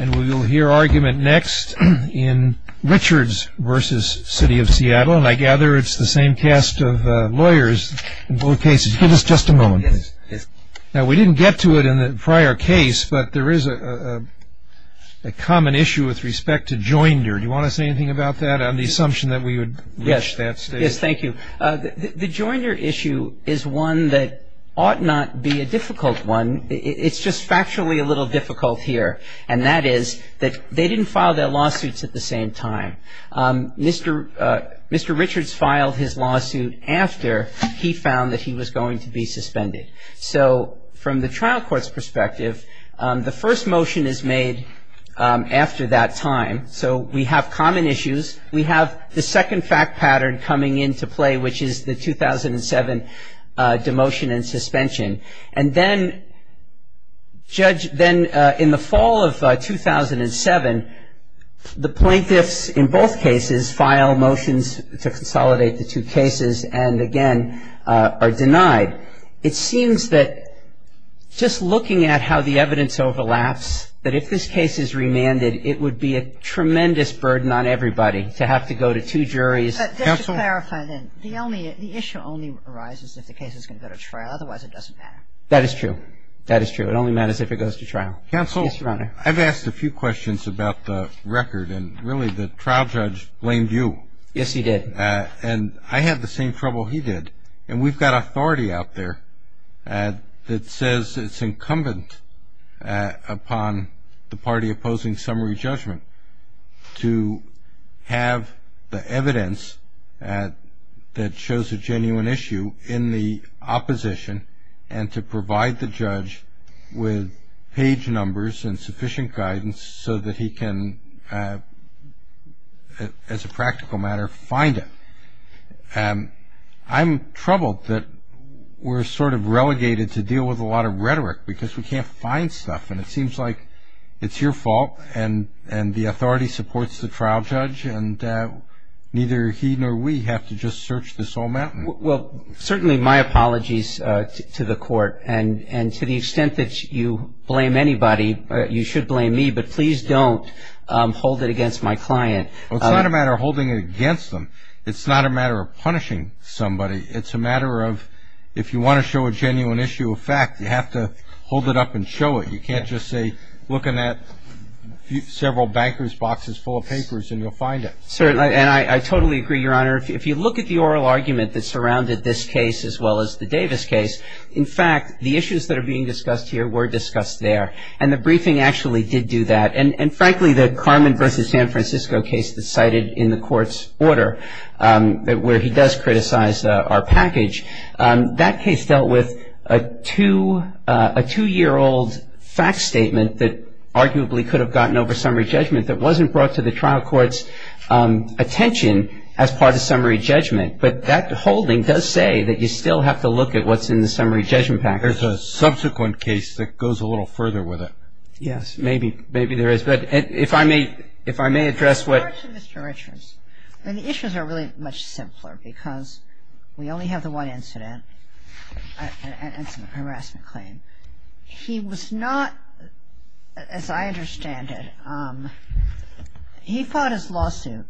And we'll hear argument next in Richards v. City of Seattle, and I gather it's the same cast of lawyers in both cases. Give us just a moment. Now, we didn't get to it in the prior case, but there is a common issue with respect to joinder. Do you want to say anything about that on the assumption that we would reach that stage? Yes, thank you. The joinder issue is one that ought not be a difficult one. It's just factually a little difficult here, and that is that they didn't file their lawsuits at the same time. Mr. Richards filed his lawsuit after he found that he was going to be suspended. So from the trial court's perspective, the first motion is made after that time. So we have common issues. We have the second fact pattern coming into play, which is the 2007 demotion and suspension. And then in the fall of 2007, the plaintiffs in both cases file motions to consolidate the two cases and, again, are denied. It seems that just looking at how the evidence overlaps, that if this case is remanded, it would be a tremendous burden on everybody to have to go to two juries. Just to clarify then, the issue only arises if the case is going to go to trial. Otherwise, it doesn't matter. That is true. That is true. It only matters if it goes to trial. Counsel. Yes, Your Honor. I've asked a few questions about the record, and really the trial judge blamed you. Yes, he did. And I had the same trouble he did. And we've got authority out there that says it's incumbent upon the party opposing summary judgment to have the evidence that shows a genuine issue in the opposition and to provide the judge with page numbers and sufficient guidance so that he can, as a practical matter, find it. I'm troubled that we're sort of relegated to deal with a lot of rhetoric because we can't find stuff. And it seems like it's your fault, and the authority supports the trial judge, and neither he nor we have to just search this whole mountain. Well, certainly my apologies to the court. And to the extent that you blame anybody, you should blame me, but please don't hold it against my client. Well, it's not a matter of holding it against them. It's not a matter of punishing somebody. It's a matter of if you want to show a genuine issue of fact, you have to hold it up and show it. You can't just say, look in that several banker's boxes full of papers and you'll find it. Certainly. And I totally agree, Your Honor. If you look at the oral argument that surrounded this case as well as the Davis case, in fact, the issues that are being discussed here were discussed there. And the briefing actually did do that. And frankly, the Carmen v. San Francisco case that's cited in the court's order where he does criticize our package, that case dealt with a two-year-old fact statement that arguably could have gotten over summary judgment that wasn't brought to the trial court's attention as part of summary judgment. But that holding does say that you still have to look at what's in the summary judgment package. There's a subsequent case that goes a little further with it. Yes. Maybe. Maybe there is. But if I may address what — In regards to Mr. Richards, the issues are really much simpler because we only have the one incident, and it's a harassment claim. He was not, as I understand it, he filed his lawsuit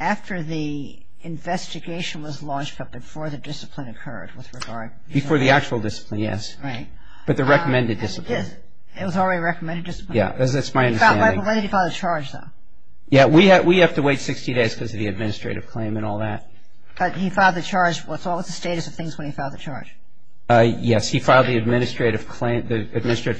after the investigation was launched but before the discipline occurred with regard — Before the actual discipline, yes. Right. But the recommended discipline. Yes. It was already a recommended discipline. Yes. That's my understanding. When did he file the charge, though? Yes. We have to wait 60 days because of the administrative claim and all that. But he filed the charge. What's the status of things when he filed the charge? Yes. He filed the administrative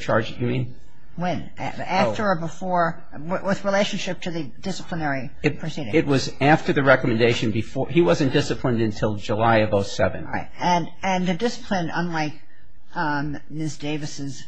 charge. You mean? When? After or before? With relationship to the disciplinary proceeding. It was after the recommendation. He wasn't disciplined until July of 07. Right. And the discipline, unlike Ms. Davis's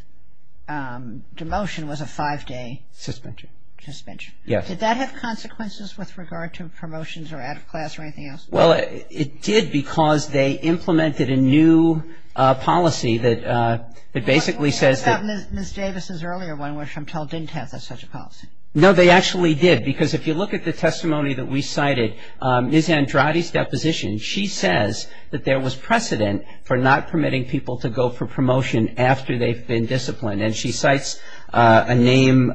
demotion, was a five-day — Suspension. Suspension. Yes. Did that have consequences with regard to promotions or out of class or anything else? Well, it did because they implemented a new policy that basically says that — But what about Ms. Davis's earlier one, which I'm told didn't have such a policy? No, they actually did because if you look at the testimony that we cited, Ms. Andrade's deposition, she says that there was precedent for not permitting people to go for promotion after they've been disciplined. And she cites a name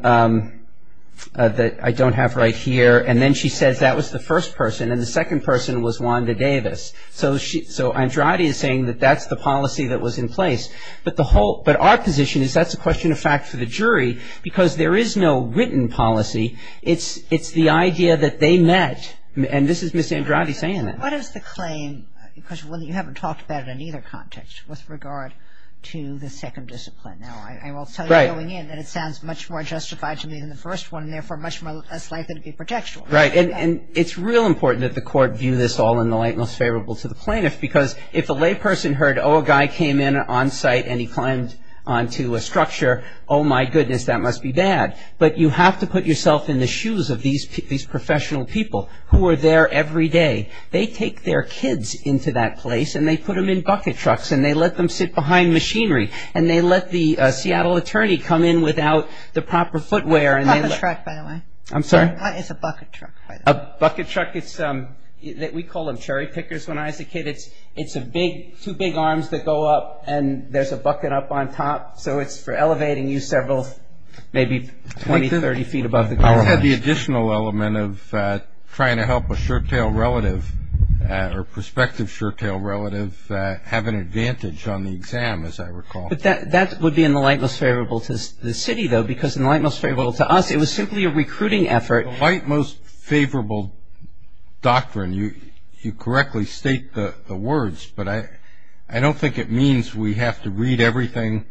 that I don't have right here. And then she says that was the first person. And the second person was Wanda Davis. So Andrade is saying that that's the policy that was in place. But the whole — but our position is that's a question of fact for the jury because there is no written policy. It's the idea that they met. And this is Ms. Andrade saying that. What is the claim? Because you haven't talked about it in either context with regard to the second discipline. Now, I will tell you going in that it sounds much more justified to me than the first one and, therefore, much less likely to be projectual. Right. And it's real important that the court view this all in the light most favorable to the plaintiff because if a layperson heard, oh, a guy came in on site and he climbed onto a structure, oh, my goodness, that must be bad. But you have to put yourself in the shoes of these professional people who are there every day. They take their kids into that place and they put them in bucket trucks and they let them sit behind machinery and they let the Seattle attorney come in without the proper footwear. Bucket truck, by the way. I'm sorry? It's a bucket truck. A bucket truck. We call them cherry pickers when I was a kid. It's two big arms that go up and there's a bucket up on top. So it's for elevating you several maybe 20, 30 feet above the ground. This had the additional element of trying to help a sure-tail relative or prospective sure-tail relative have an advantage on the exam, as I recall. But that would be in the light most favorable to the city, though, because in the light most favorable to us it was simply a recruiting effort. The light most favorable doctrine, you correctly state the words, but I don't think it means we have to read everything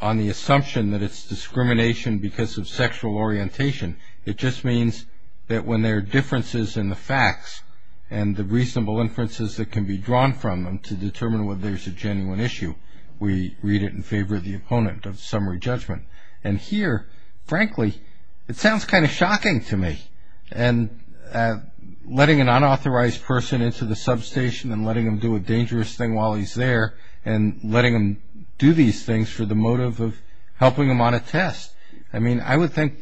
on the assumption that it's discrimination because of sexual orientation. It just means that when there are differences in the facts and the reasonable inferences that can be drawn from them to determine whether there's a genuine issue, we read it in favor of the opponent of summary judgment. And here, frankly, it sounds kind of shocking to me. And letting an unauthorized person into the substation and letting them do a dangerous thing while he's there and letting them do these things for the motive of helping them on a test. I mean, I would think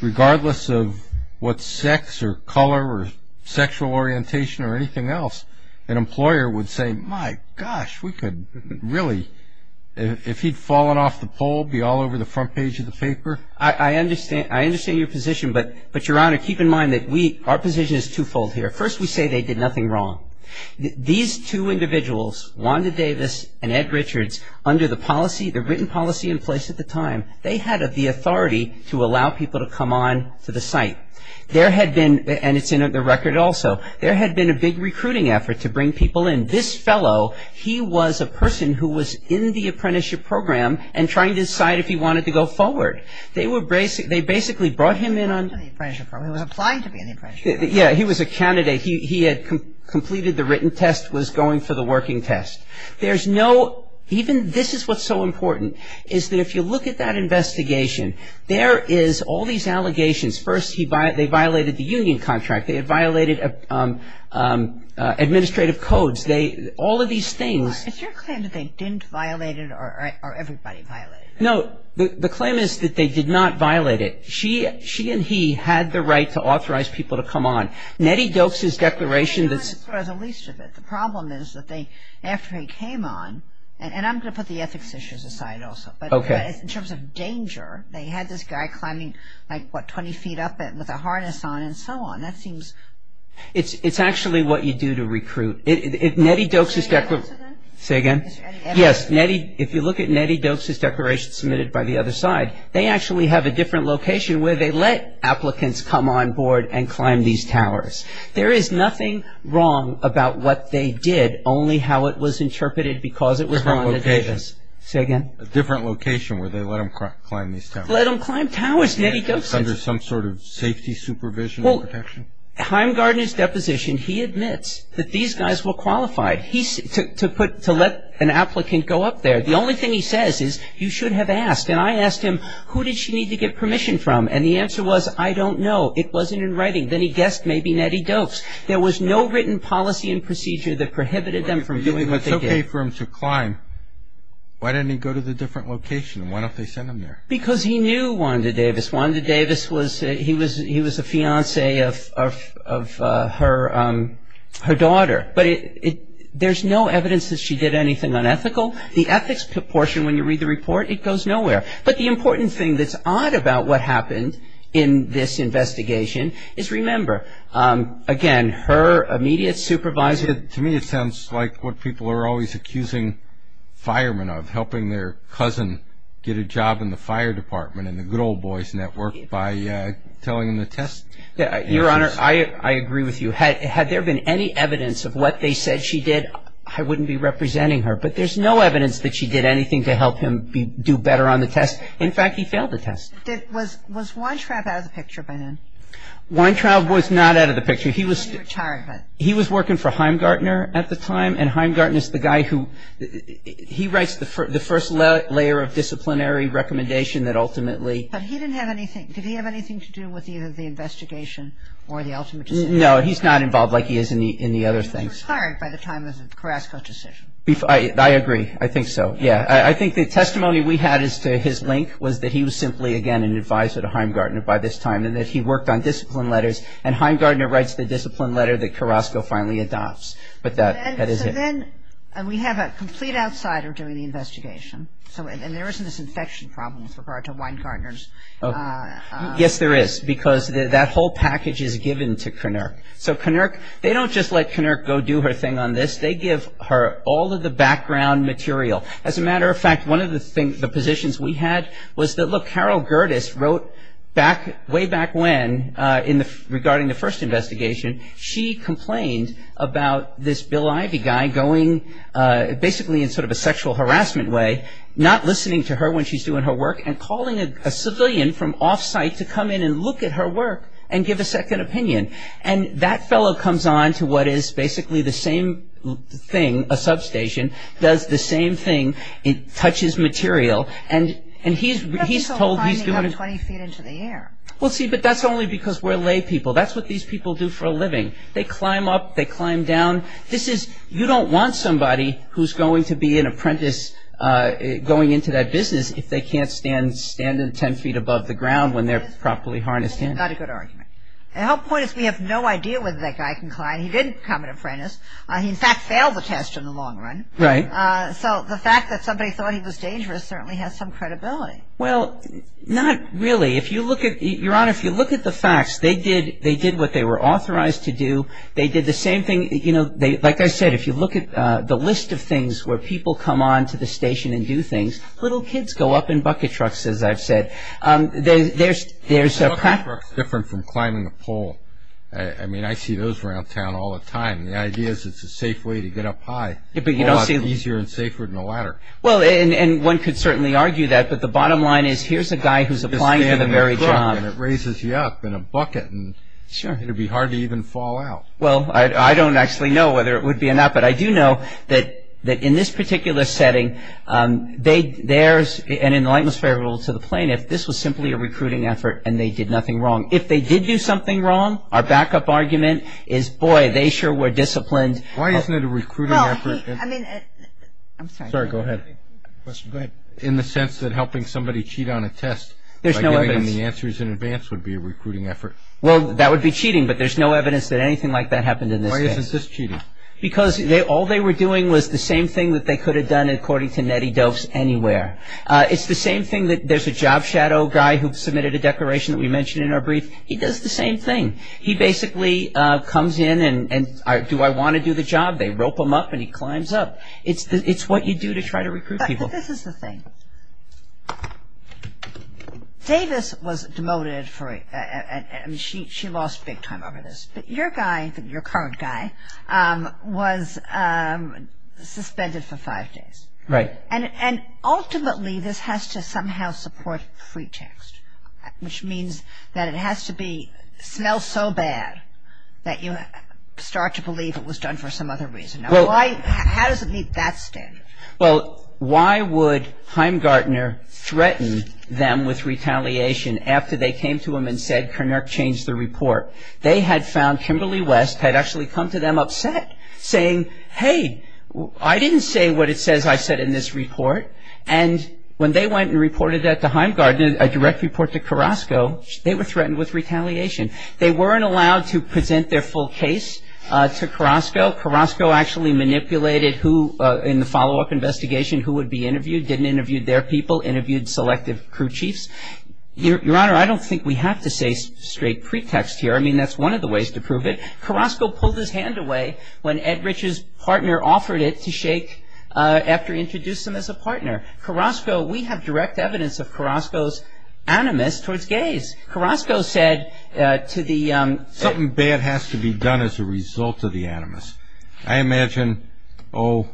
regardless of what sex or color or sexual orientation or anything else, an employer would say, my gosh, we could really, if he'd fallen off the pole, be all over the front page of the paper. I understand your position, but, Your Honor, keep in mind that our position is twofold here. First, we say they did nothing wrong. These two individuals, Wanda Davis and Ed Richards, under the policy, the written policy in place at the time, they had the authority to allow people to come on to the site. There had been, and it's in the record also, there had been a big recruiting effort to bring people in. This fellow, he was a person who was in the apprenticeship program and trying to decide if he wanted to go forward. They basically brought him in on... He was applying to be in the apprenticeship program. Yeah, he was a candidate. He had completed the written test, was going for the working test. There's no, even this is what's so important, is that if you look at that investigation, there is all these allegations. First, they violated the union contract. They had violated administrative codes. All of these things... Is your claim that they didn't violate it or everybody violated it? No, the claim is that they did not violate it. She and he had the right to authorize people to come on. Nettie Doakes' declaration... I don't understand the least of it. The problem is that they, after he came on, and I'm going to put the ethics issues aside also, but in terms of danger, they had this guy climbing, like, what, 20 feet up with a harness on and so on. That seems... It's actually what you do to recruit. If Nettie Doakes' declaration... Say that again. Say again. Yes, if you look at Nettie Doakes' declaration submitted by the other side, they actually have a different location where they let applicants come on board and climb these towers. There is nothing wrong about what they did, only how it was interpreted because it was Rhonda Davis. Different location. Say again. A different location where they let them climb these towers. Let them climb towers, Nettie Doakes said. Under some sort of safety supervision or protection. Well, Heimgardner's deposition, he admits that these guys were qualified to let an applicant go up there. The only thing he says is, you should have asked. And I asked him, who did she need to get permission from? And the answer was, I don't know. It wasn't in writing. Then he guessed maybe Nettie Doakes. There was no written policy and procedure that prohibited them from doing what they did. It's okay for them to climb. Why didn't he go to the different location? Why don't they send them there? Because he knew Rhonda Davis. Rhonda Davis was... He was a fiancé of her daughter. But there's no evidence that she did anything unethical. The ethics portion, when you read the report, it goes nowhere. But the important thing that's odd about what happened in this investigation is, remember, again, her immediate supervisor... To me, it sounds like what people are always accusing firemen of, helping their cousin get a job in the fire department in the good old boys' network by telling them the test answers. Your Honor, I agree with you. Had there been any evidence of what they said she did, I wouldn't be representing her. But there's no evidence that she did anything to help him do better on the test. In fact, he failed the test. Was Weintraub out of the picture by then? Weintraub was not out of the picture. He was working for Heimgartner at the time, and Heimgartner's the guy who... He writes the first layer of disciplinary recommendation that ultimately... But he didn't have anything... Did he have anything to do with either the investigation or the ultimate decision? No, he's not involved like he is in the other things. He was hired by the time of Carrasco's decision. I agree. I think so. Yeah. I think the testimony we had as to his link was that he was simply, again, an advisor to Heimgartner by this time and that he worked on discipline letters, and Heimgartner writes the discipline letter that Carrasco finally adopts. But that is it. So then we have a complete outsider doing the investigation, and there isn't this infection problem with regard to Weingartner's... Yes, there is, because that whole package is given to Knerk. So Knerk... They don't just let Knerk go do her thing on this. They give her all of the background material. As a matter of fact, one of the positions we had was that, look, Carol Gerdes wrote way back when regarding the first investigation. She complained about this Bill Ivey guy going, basically in sort of a sexual harassment way, not listening to her when she's doing her work and calling a civilian from off-site to come in and look at her work and give a second opinion. And that fellow comes on to what is basically the same thing, a substation, does the same thing, it touches material, and he's told he's doing... He's climbing up 20 feet into the air. Well, see, but that's only because we're lay people. That's what these people do for a living. They climb up, they climb down. You don't want somebody who's going to be an apprentice going into that business if they can't stand 10 feet above the ground when they're properly harnessed in. Not a good argument. The whole point is we have no idea whether that guy can climb. He didn't become an apprentice. He, in fact, failed the test in the long run. Right. So the fact that somebody thought he was dangerous certainly has some credibility. Well, not really. Your Honor, if you look at the facts, they did what they were authorized to do. They did the same thing, you know, like I said, if you look at the list of things where people come on to the station and do things, little kids go up in bucket trucks, as I've said. Bucket trucks are different from climbing a pole. I mean, I see those around town all the time. The idea is it's a safe way to get up high. A lot easier and safer than a ladder. Well, and one could certainly argue that, but the bottom line is here's a guy who's applying for the very job. You stand in a truck and it raises you up in a bucket. Sure. It would be hard to even fall out. Well, I don't actually know whether it would be enough, but I do know that in this particular setting, and in the lightness fair rule to the plaintiff, this was simply a recruiting effort and they did nothing wrong. If they did do something wrong, our backup argument is, boy, they sure were disciplined. Why isn't it a recruiting effort? Well, I mean, I'm sorry. Sorry, go ahead. Go ahead. In the sense that helping somebody cheat on a test by giving them the answers in advance would be a recruiting effort. Well, that would be cheating, but there's no evidence that anything like that happened in this case. Why isn't this cheating? Because all they were doing was the same thing that they could have done, according to Nettie Doves, anywhere. It's the same thing that there's a job shadow guy who submitted a declaration that we mentioned in our brief. He does the same thing. He basically comes in and, do I want to do the job? They rope him up and he climbs up. It's what you do to try to recruit people. But this is the thing. Davis was demoted for, I mean, she lost big time over this, but your guy, your current guy, was suspended for five days. Right. And ultimately this has to somehow support free text, which means that it has to smell so bad that you start to believe it was done for some other reason. How does it meet that standard? Well, why would Heimgartner threaten them with retaliation after they came to him and said, They had found Kimberly West had actually come to them upset, saying, hey, I didn't say what it says I said in this report. And when they went and reported that to Heimgartner, a direct report to Carrasco, they were threatened with retaliation. They weren't allowed to present their full case to Carrasco. Carrasco actually manipulated who, in the follow-up investigation, who would be interviewed, didn't interview their people, interviewed selective crew chiefs. Your Honor, I don't think we have to say straight pretext here. I mean, that's one of the ways to prove it. Carrasco pulled his hand away when Ed Rich's partner offered it to Shake after he introduced him as a partner. Carrasco, we have direct evidence of Carrasco's animus towards gays. Carrasco said to the Something bad has to be done as a result of the animus. I imagine, oh,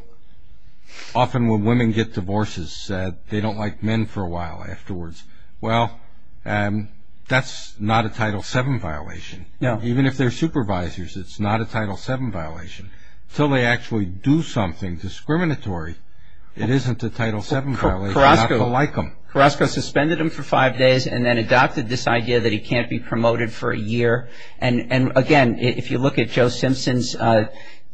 often when women get divorces, they don't like men for a while afterwards. Well, that's not a Title VII violation. No. Even if they're supervisors, it's not a Title VII violation. Until they actually do something discriminatory, it isn't a Title VII violation not to like them. Carrasco suspended him for five days and then adopted this idea that he can't be promoted for a year. And, again, if you look at Joe Simpson's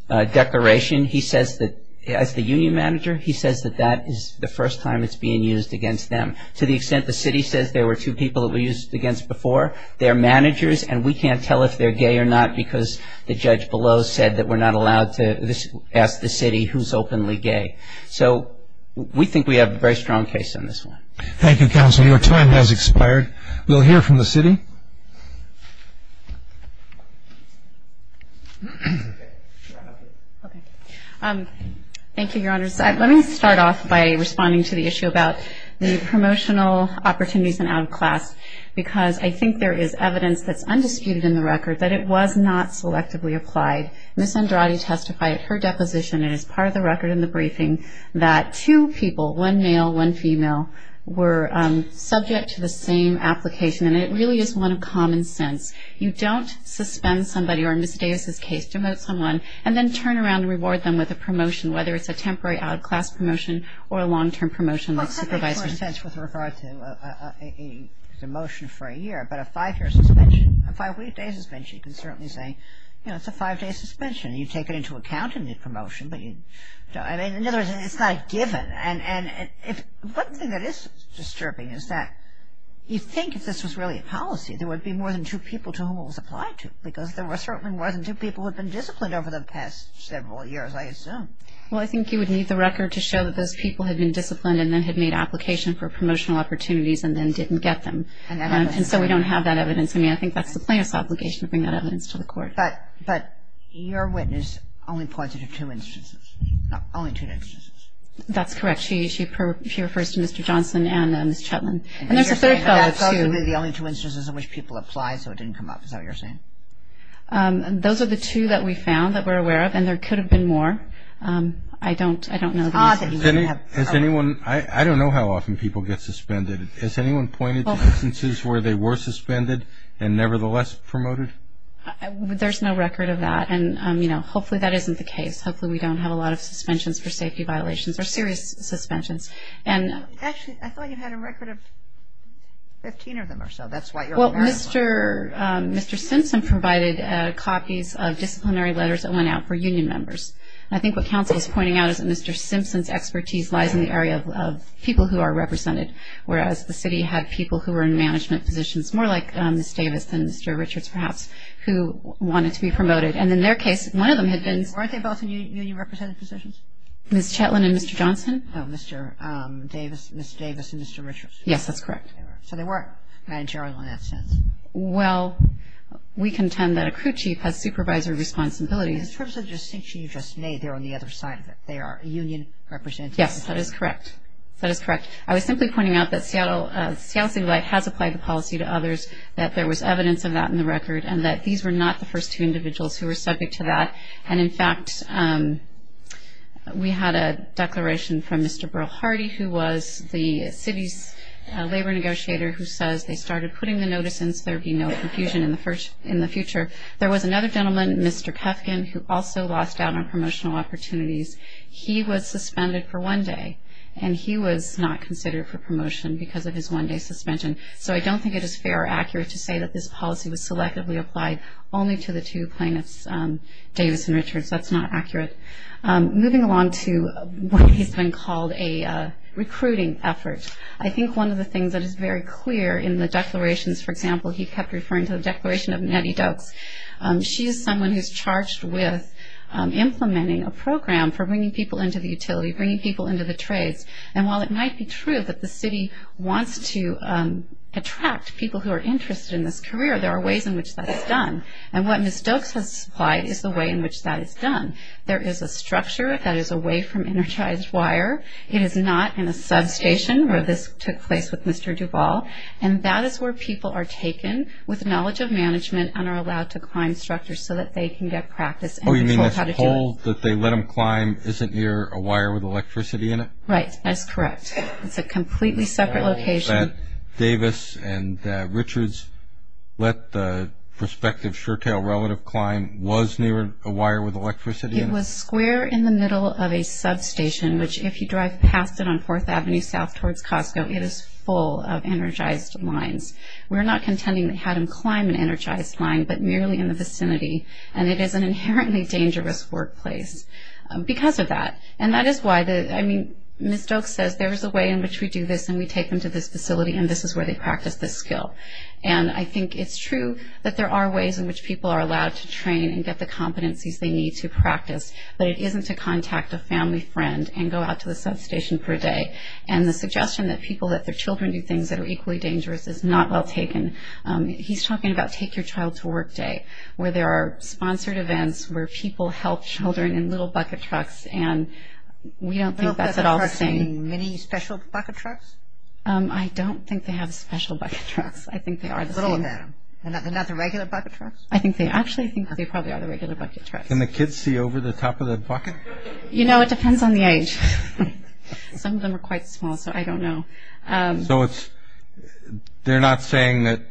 declaration, he says that as the union manager, he says that that is the first time it's being used against them to the extent the city says there were two people it was used against before. They're managers, and we can't tell if they're gay or not because the judge below said that we're not allowed to ask the city who's openly gay. So we think we have a very strong case on this one. Thank you, Counsel. Your time has expired. We'll hear from the city. Thank you, Your Honors. Let me start off by responding to the issue about the promotional opportunities and out-of-class because I think there is evidence that's undisputed in the record that it was not selectively applied. Ms. Andrade testified at her deposition and is part of the record in the briefing that two people, one male, one female, were subject to the same application, and it really is one of common sense. You don't suspend somebody or, in Ms. Davis' case, demote someone and then turn around and reward them with a promotion, whether it's a temporary out-of-class promotion or a long-term promotion like supervising. Well, that makes more sense with regard to a demotion for a year, but a five-year suspension, a five-week day suspension, you can certainly say, you know, it's a five-day suspension. You take it into account in the promotion, but you don't. I mean, in other words, it's not given. And one thing that is disturbing is that you'd think if this was really a policy, there would be more than two people to whom it was applied to because there certainly wasn't two people who had been disciplined over the past several years, I assume. Well, I think you would need the record to show that those people had been disciplined and then had made application for promotional opportunities and then didn't get them. And so we don't have that evidence. I mean, I think that's the plaintiff's obligation to bring that evidence to the court. But your witness only pointed to two instances, only two instances. That's correct. She refers to Mr. Johnson and Ms. Chetland. And there's a third thought, too. You mean the only two instances in which people applied so it didn't come up, is that what you're saying? Those are the two that we found that we're aware of, and there could have been more. I don't know. I don't know how often people get suspended. Has anyone pointed to instances where they were suspended and nevertheless promoted? There's no record of that. And, you know, hopefully that isn't the case. Hopefully we don't have a lot of suspensions for safety violations or serious suspensions. Actually, I thought you had a record of 15 of them or so. That's what you're aware of. Well, Mr. Simpson provided copies of disciplinary letters that went out for union members. I think what counsel is pointing out is that Mr. Simpson's expertise lies in the area of people who are represented, whereas the city had people who were in management positions, more like Ms. Davis and Mr. Richards perhaps, who wanted to be promoted. And in their case, one of them had been Ms. Chetland and Mr. Johnson. No, Ms. Davis and Mr. Richards. Yes, that's correct. So they weren't managerial in that sense. Well, we contend that a crew chief has supervisory responsibilities. In terms of the distinction you just made, they're on the other side of it. They are union representatives. Yes, that is correct. That is correct. I was simply pointing out that Seattle City Light has applied the policy to others, that there was evidence of that in the record, and that these were not the first two individuals who were subject to that. And, in fact, we had a declaration from Mr. Burl Hardy, who was the city's labor negotiator, who says they started putting the notice in so there would be no confusion in the future. There was another gentleman, Mr. Kefkin, who also lost out on promotional opportunities. He was suspended for one day, and he was not considered for promotion because of his one-day suspension. So I don't think it is fair or accurate to say that this policy was selectively applied only to the two plaintiffs, Davis and Richards. That's not accurate. Moving along to what has been called a recruiting effort, I think one of the things that is very clear in the declarations, for example, he kept referring to the declaration of Nettie Doakes. She is someone who is charged with implementing a program for bringing people into the utility, bringing people into the trades. And while it might be true that the city wants to attract people who are interested in this career, there are ways in which that is done. And what Ms. Doakes has supplied is the way in which that is done. There is a structure that is away from energized wire. It is not in a substation where this took place with Mr. Duvall, and that is where people are taken with knowledge of management and are allowed to climb structures so that they can get practice. Oh, you mean this pole that they let them climb isn't near a wire with electricity in it? Right. That's correct. It's a completely separate location. Davis and Richards let the prospective Shurtale relative climb, was near a wire with electricity in it? It was square in the middle of a substation, which if you drive past it on 4th Avenue south towards Costco, it is full of energized lines. We're not contending that it had them climb an energized line, but merely in the vicinity. And it is an inherently dangerous workplace because of that. And that is why Ms. Doakes says there is a way in which we do this, and we take them to this facility, and this is where they practice this skill. And I think it's true that there are ways in which people are allowed to train and get the competencies they need to practice, but it isn't to contact a family friend and go out to the substation for a day. And the suggestion that people, that their children do things that are equally dangerous is not well taken. He's talking about Take Your Child to Work Day, where there are sponsored events, where people help children in little bucket trucks, and we don't think that's at all sane. Little bucket trucks and mini special bucket trucks? I don't think they have special bucket trucks. I think they are the same. Little of them. They're not the regular bucket trucks? I think they actually think they probably are the regular bucket trucks. Can the kids see over the top of the bucket? You know, it depends on the age. Some of them are quite small, so I don't know. So they're not saying that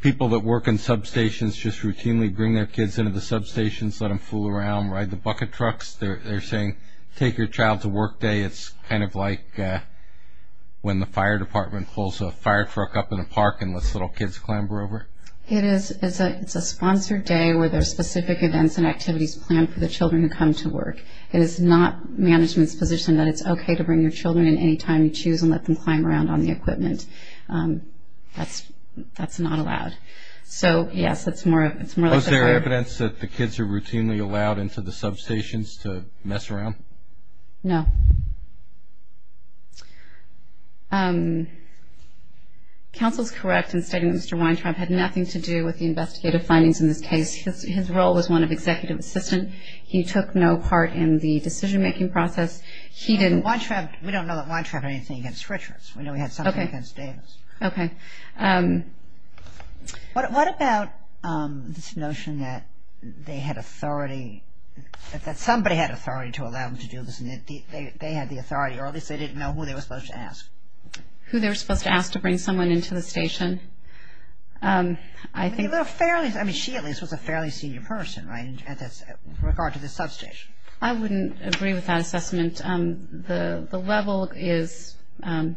people that work in substations just routinely bring their kids into the substations, let them fool around, ride the bucket trucks? They're saying Take Your Child to Work Day is kind of like when the fire department pulls a fire truck up in a park and lets little kids clamber over? It is. It's a sponsored day where there are specific events and activities planned for the children who come to work. It is not management's position that it's okay to bring your children in any time you choose and let them climb around on the equipment. That's not allowed. So, yes, it's more like the fire department. Is there evidence that the kids are routinely allowed into the substations to mess around? No. Counsel is correct in stating that Mr. Weintraub had nothing to do with the investigative findings in this case. His role was one of executive assistant. He took no part in the decision-making process. We don't know that Weintraub had anything against Richards. We know he had something against Davis. Okay. What about this notion that they had authority, that somebody had authority to allow them to do this and they had the authority, or at least they didn't know who they were supposed to ask? Who they were supposed to ask to bring someone into the station? I mean, she at least was a fairly senior person, right, with regard to the substation. I wouldn't agree with that assessment. The level is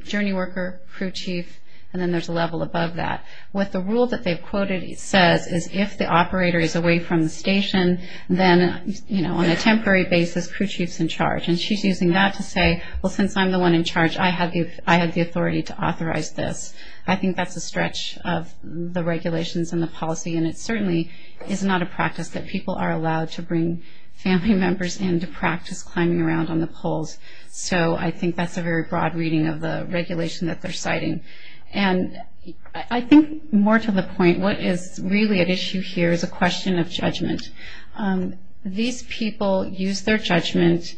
journey worker, crew chief, and then there's a level above that. What the rule that they've quoted says is if the operator is away from the station, then, you know, on a temporary basis, crew chief's in charge. And she's using that to say, well, since I'm the one in charge, I have the authority to authorize this. I think that's a stretch of the regulations and the policy, and it certainly is not a practice that people are allowed to bring family members in to practice climbing around on the poles. So I think that's a very broad reading of the regulation that they're citing. And I think more to the point, what is really at issue here is a question of judgment. These people used their judgment,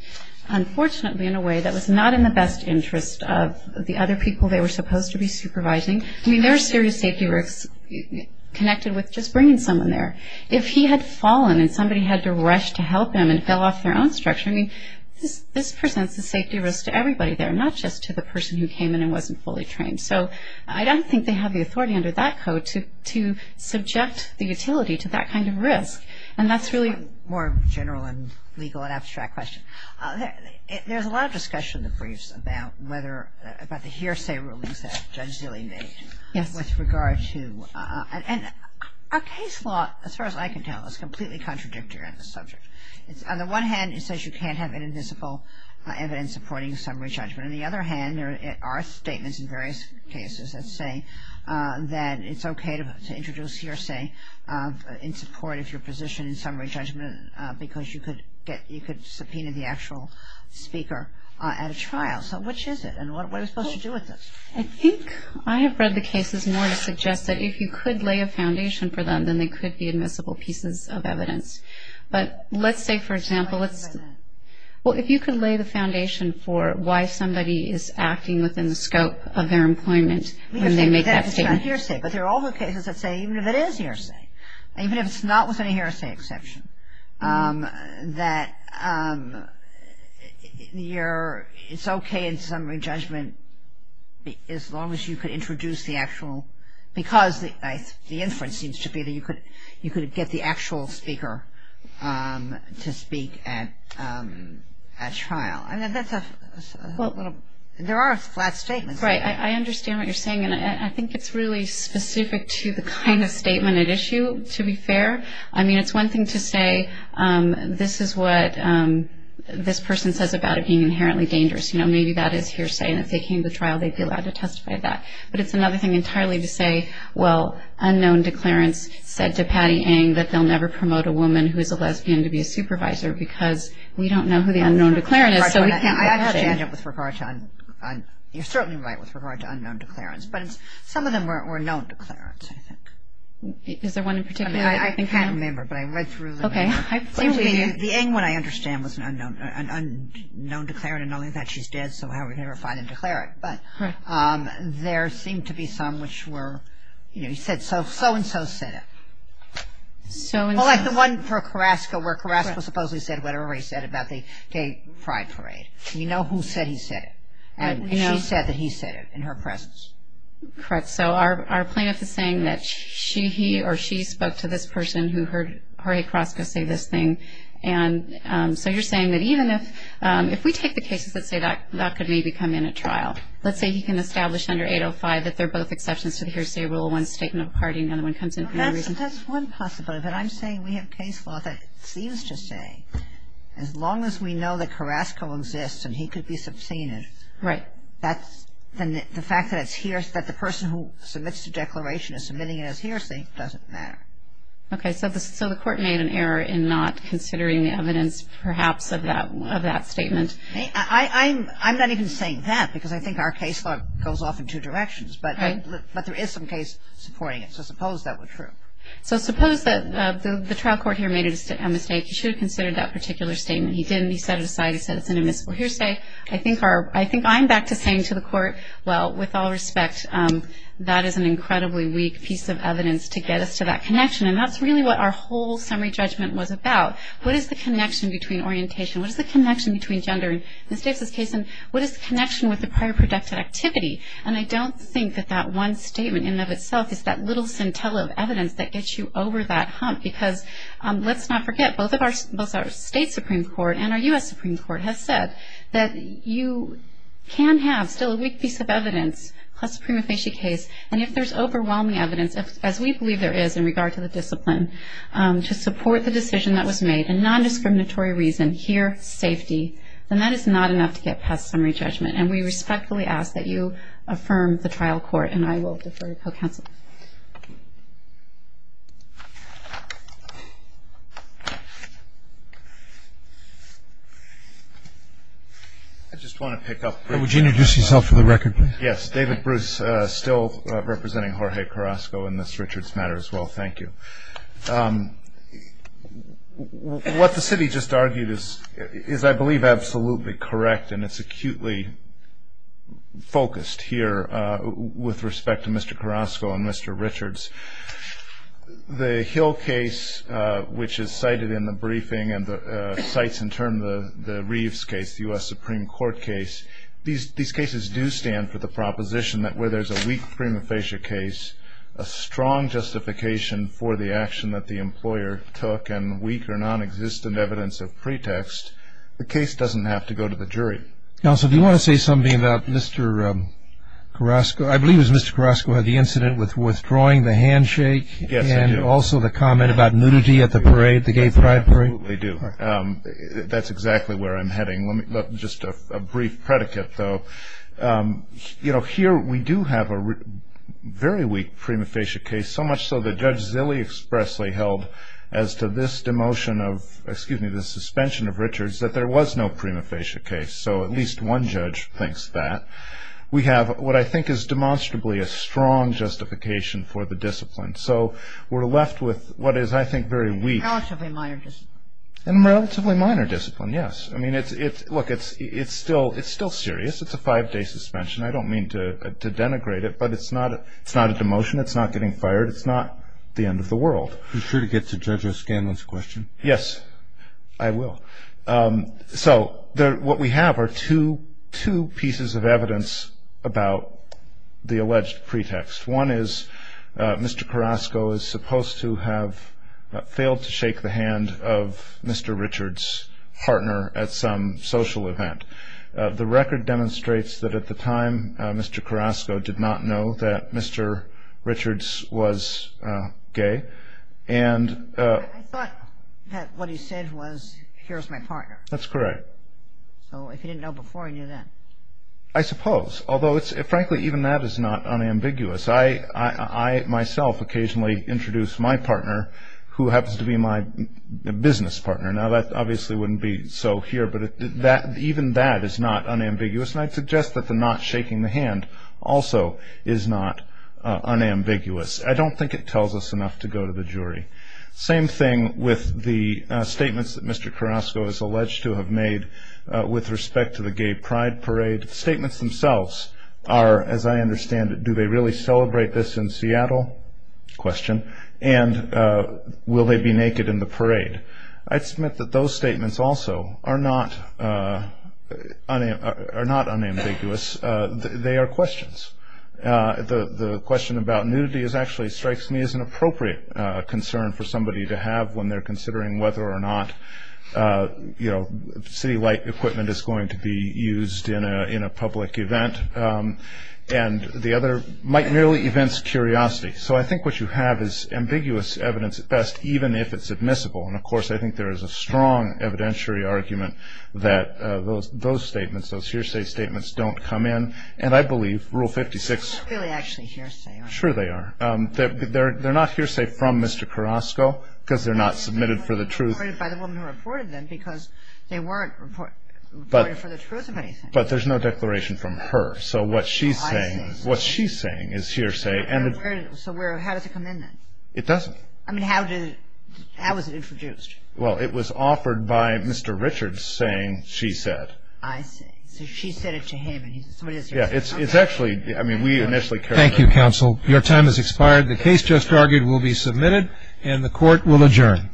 unfortunately, in a way that was not in the best interest of the other people they were supposed to be supervising. I mean, there are serious safety risks connected with just bringing someone there. If he had fallen and somebody had to rush to help him and fell off their own structure, I mean, this presents a safety risk to everybody there, not just to the person who came in and wasn't fully trained. So I don't think they have the authority under that code to subject the utility to that kind of risk. And that's really a more general and legal and abstract question. There's a lot of discussion in the briefs about the hearsay rulings that Judge Zilley made with regard to – and our case law, as far as I can tell, is completely contradictory on this subject. On the one hand, it says you can't have any visible evidence supporting summary judgment. On the other hand, there are statements in various cases that say that it's okay to introduce hearsay in support of your position in summary judgment because you could subpoena the actual speaker at a trial. So which is it, and what are we supposed to do with this? I think I have read the cases more to suggest that if you could lay a foundation for them, then they could be admissible pieces of evidence. But let's say, for example, let's – Well, if you could lay the foundation for why somebody is acting within the scope of their employment when they make that statement. But there are other cases that say even if it is hearsay, even if it's not within a hearsay exception, that it's okay in summary judgment as long as you could introduce the actual – because the inference seems to be that you could get the actual speaker to speak at a trial. I mean, that's a little – there are flat statements. Right, I understand what you're saying, and I think it's really specific to the kind of statement at issue, to be fair. I mean, it's one thing to say this is what this person says about it being inherently dangerous. You know, maybe that is hearsay, and if they came to trial, they'd be allowed to testify to that. But it's another thing entirely to say, well, unknown declarants said to Patty Eng that they'll never promote a woman who is a lesbian to be a supervisor because we don't know who the unknown declarant is, so we can't – I have to add it with regard to – you're certainly right with regard to unknown declarants, but some of them were known declarants, I think. Is there one in particular? I can't remember, but I read through the – Okay. The Eng one, I understand, was an unknown declarant, and knowing that, she's dead, so how are we going to find and declare it? But there seemed to be some which were – you know, you said so-and-so said it. So-and-so. Well, like the one for Carrasco, where Carrasco supposedly said whatever he said about the gay pride parade. We know who said he said it, and she said that he said it in her presence. Correct. So our plaintiff is saying that she, he, or she spoke to this person who heard Harry Carrasco say this thing, and so you're saying that even if – if we take the cases that say that could maybe come in at trial, let's say he can establish under 805 that they're both exceptions to the hearsay rule, one's a statement of party and the other one comes in for no reason. That's one possibility. But I'm saying we have case law that seems to say as long as we know that Carrasco exists and he could be subpoenaed. Right. That's – then the fact that it's hearsay, that the person who submits the declaration is submitting it as hearsay doesn't matter. Okay. So the court made an error in not considering the evidence perhaps of that statement. I'm not even saying that because I think our case law goes off in two directions. Right. But there is some case supporting it. So suppose that were true. So suppose that the trial court here made a mistake. He should have considered that particular statement. He didn't. He set it aside. He said it's an admissible hearsay. I think our – I think I'm back to saying to the court, well, with all respect, that is an incredibly weak piece of evidence to get us to that connection, and that's really what our whole summary judgment was about. What is the connection between orientation? What is the connection between gender in Ms. Davis' case, and what is the connection with the prior productive activity? And I don't think that that one statement in and of itself is that little scintilla of evidence that gets you over that hump, because let's not forget, both our state Supreme Court and our U.S. Supreme Court have said that you can have still a weak piece of evidence, plus a prima facie case, and if there's overwhelming evidence, as we believe there is in regard to the discipline, to support the decision that was made in nondiscriminatory reason, here, safety, then that is not enough to get past summary judgment. And we respectfully ask that you affirm the trial court, and I will defer to co-counsel. I just want to pick up. Would you introduce yourself for the record, please? Yes, David Bruce, still representing Jorge Carrasco in this Richards matter, as well. Thank you. What the city just argued is, I believe, absolutely correct, and it's acutely focused here with respect to Mr. Carrasco and Mr. Richards. The Hill case, which is cited in the briefing, and cites in turn the Reeves case, the U.S. Supreme Court case, these cases do stand for the proposition that where there's a weak prima facie case, a strong justification for the action that the employer took, and weak or nonexistent evidence of pretext, the case doesn't have to go to the jury. Counsel, do you want to say something about Mr. Carrasco? I believe it was Mr. Carrasco who had the incident with withdrawing the handshake. Yes, I do. And also the comment about nudity at the parade, the gay pride parade. I absolutely do. That's exactly where I'm heading. Just a brief predicate, though. Here we do have a very weak prima facie case, so much so that Judge Zille expressly held as to this suspension of Richards that there was no prima facie case. So at least one judge thinks that. We have what I think is demonstrably a strong justification for the discipline. So we're left with what is, I think, very weak. And a relatively minor discipline. And a relatively minor discipline, yes. I mean, look, it's still serious. It's a five-day suspension. I don't mean to denigrate it, but it's not a demotion. It's not getting fired. It's not the end of the world. Be sure to get to Judge O'Scanlan's question. Yes, I will. So what we have are two pieces of evidence about the alleged pretext. One is Mr. Carrasco is supposed to have failed to shake the hand of Mr. Richards' partner at some social event. The record demonstrates that at the time Mr. Carrasco did not know that Mr. Richards was gay. I thought that what he said was, here's my partner. That's correct. So if he didn't know before, he knew then. I suppose. Although, frankly, even that is not unambiguous. I myself occasionally introduce my partner, who happens to be my business partner. Now, that obviously wouldn't be so here. But even that is not unambiguous. And I'd suggest that the not shaking the hand also is not unambiguous. I don't think it tells us enough to go to the jury. Same thing with the statements that Mr. Carrasco is alleged to have made with respect to the gay pride parade. Statements themselves are, as I understand it, do they really celebrate this in Seattle? Question. And will they be naked in the parade? I'd submit that those statements also are not unambiguous. They are questions. The question about nudity actually strikes me as an appropriate concern for somebody to have when they're considering whether or not, you know, city light equipment is going to be used in a public event. And the other might merely evince curiosity. So I think what you have is ambiguous evidence at best, even if it's admissible. And, of course, I think there is a strong evidentiary argument that those statements, those hearsay statements don't come in. And I believe Rule 56. They're not really actually hearsay, are they? Sure they are. They're not hearsay from Mr. Carrasco because they're not submitted for the truth. They weren't reported by the woman who reported them because they weren't reported for the truth of anything. But there's no declaration from her. So what she's saying is hearsay. So how does it come in then? It doesn't. I mean, how was it introduced? Well, it was offered by Mr. Richards saying she said. I see. So she said it to him and he said somebody else said it to him. Yeah, it's actually, I mean, we initially carried it. Thank you, counsel. Your time has expired. The case just argued will be submitted and the court will adjourn.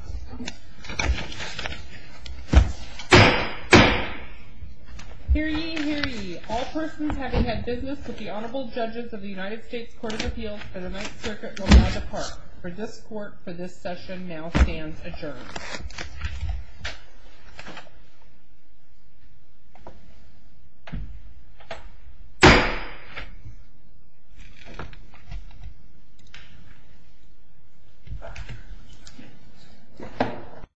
Hear ye, hear ye. All persons having had business with the honorable judges of the United States Court of Appeals for the Ninth Circuit will now depart. The court for this session now stands adjourned.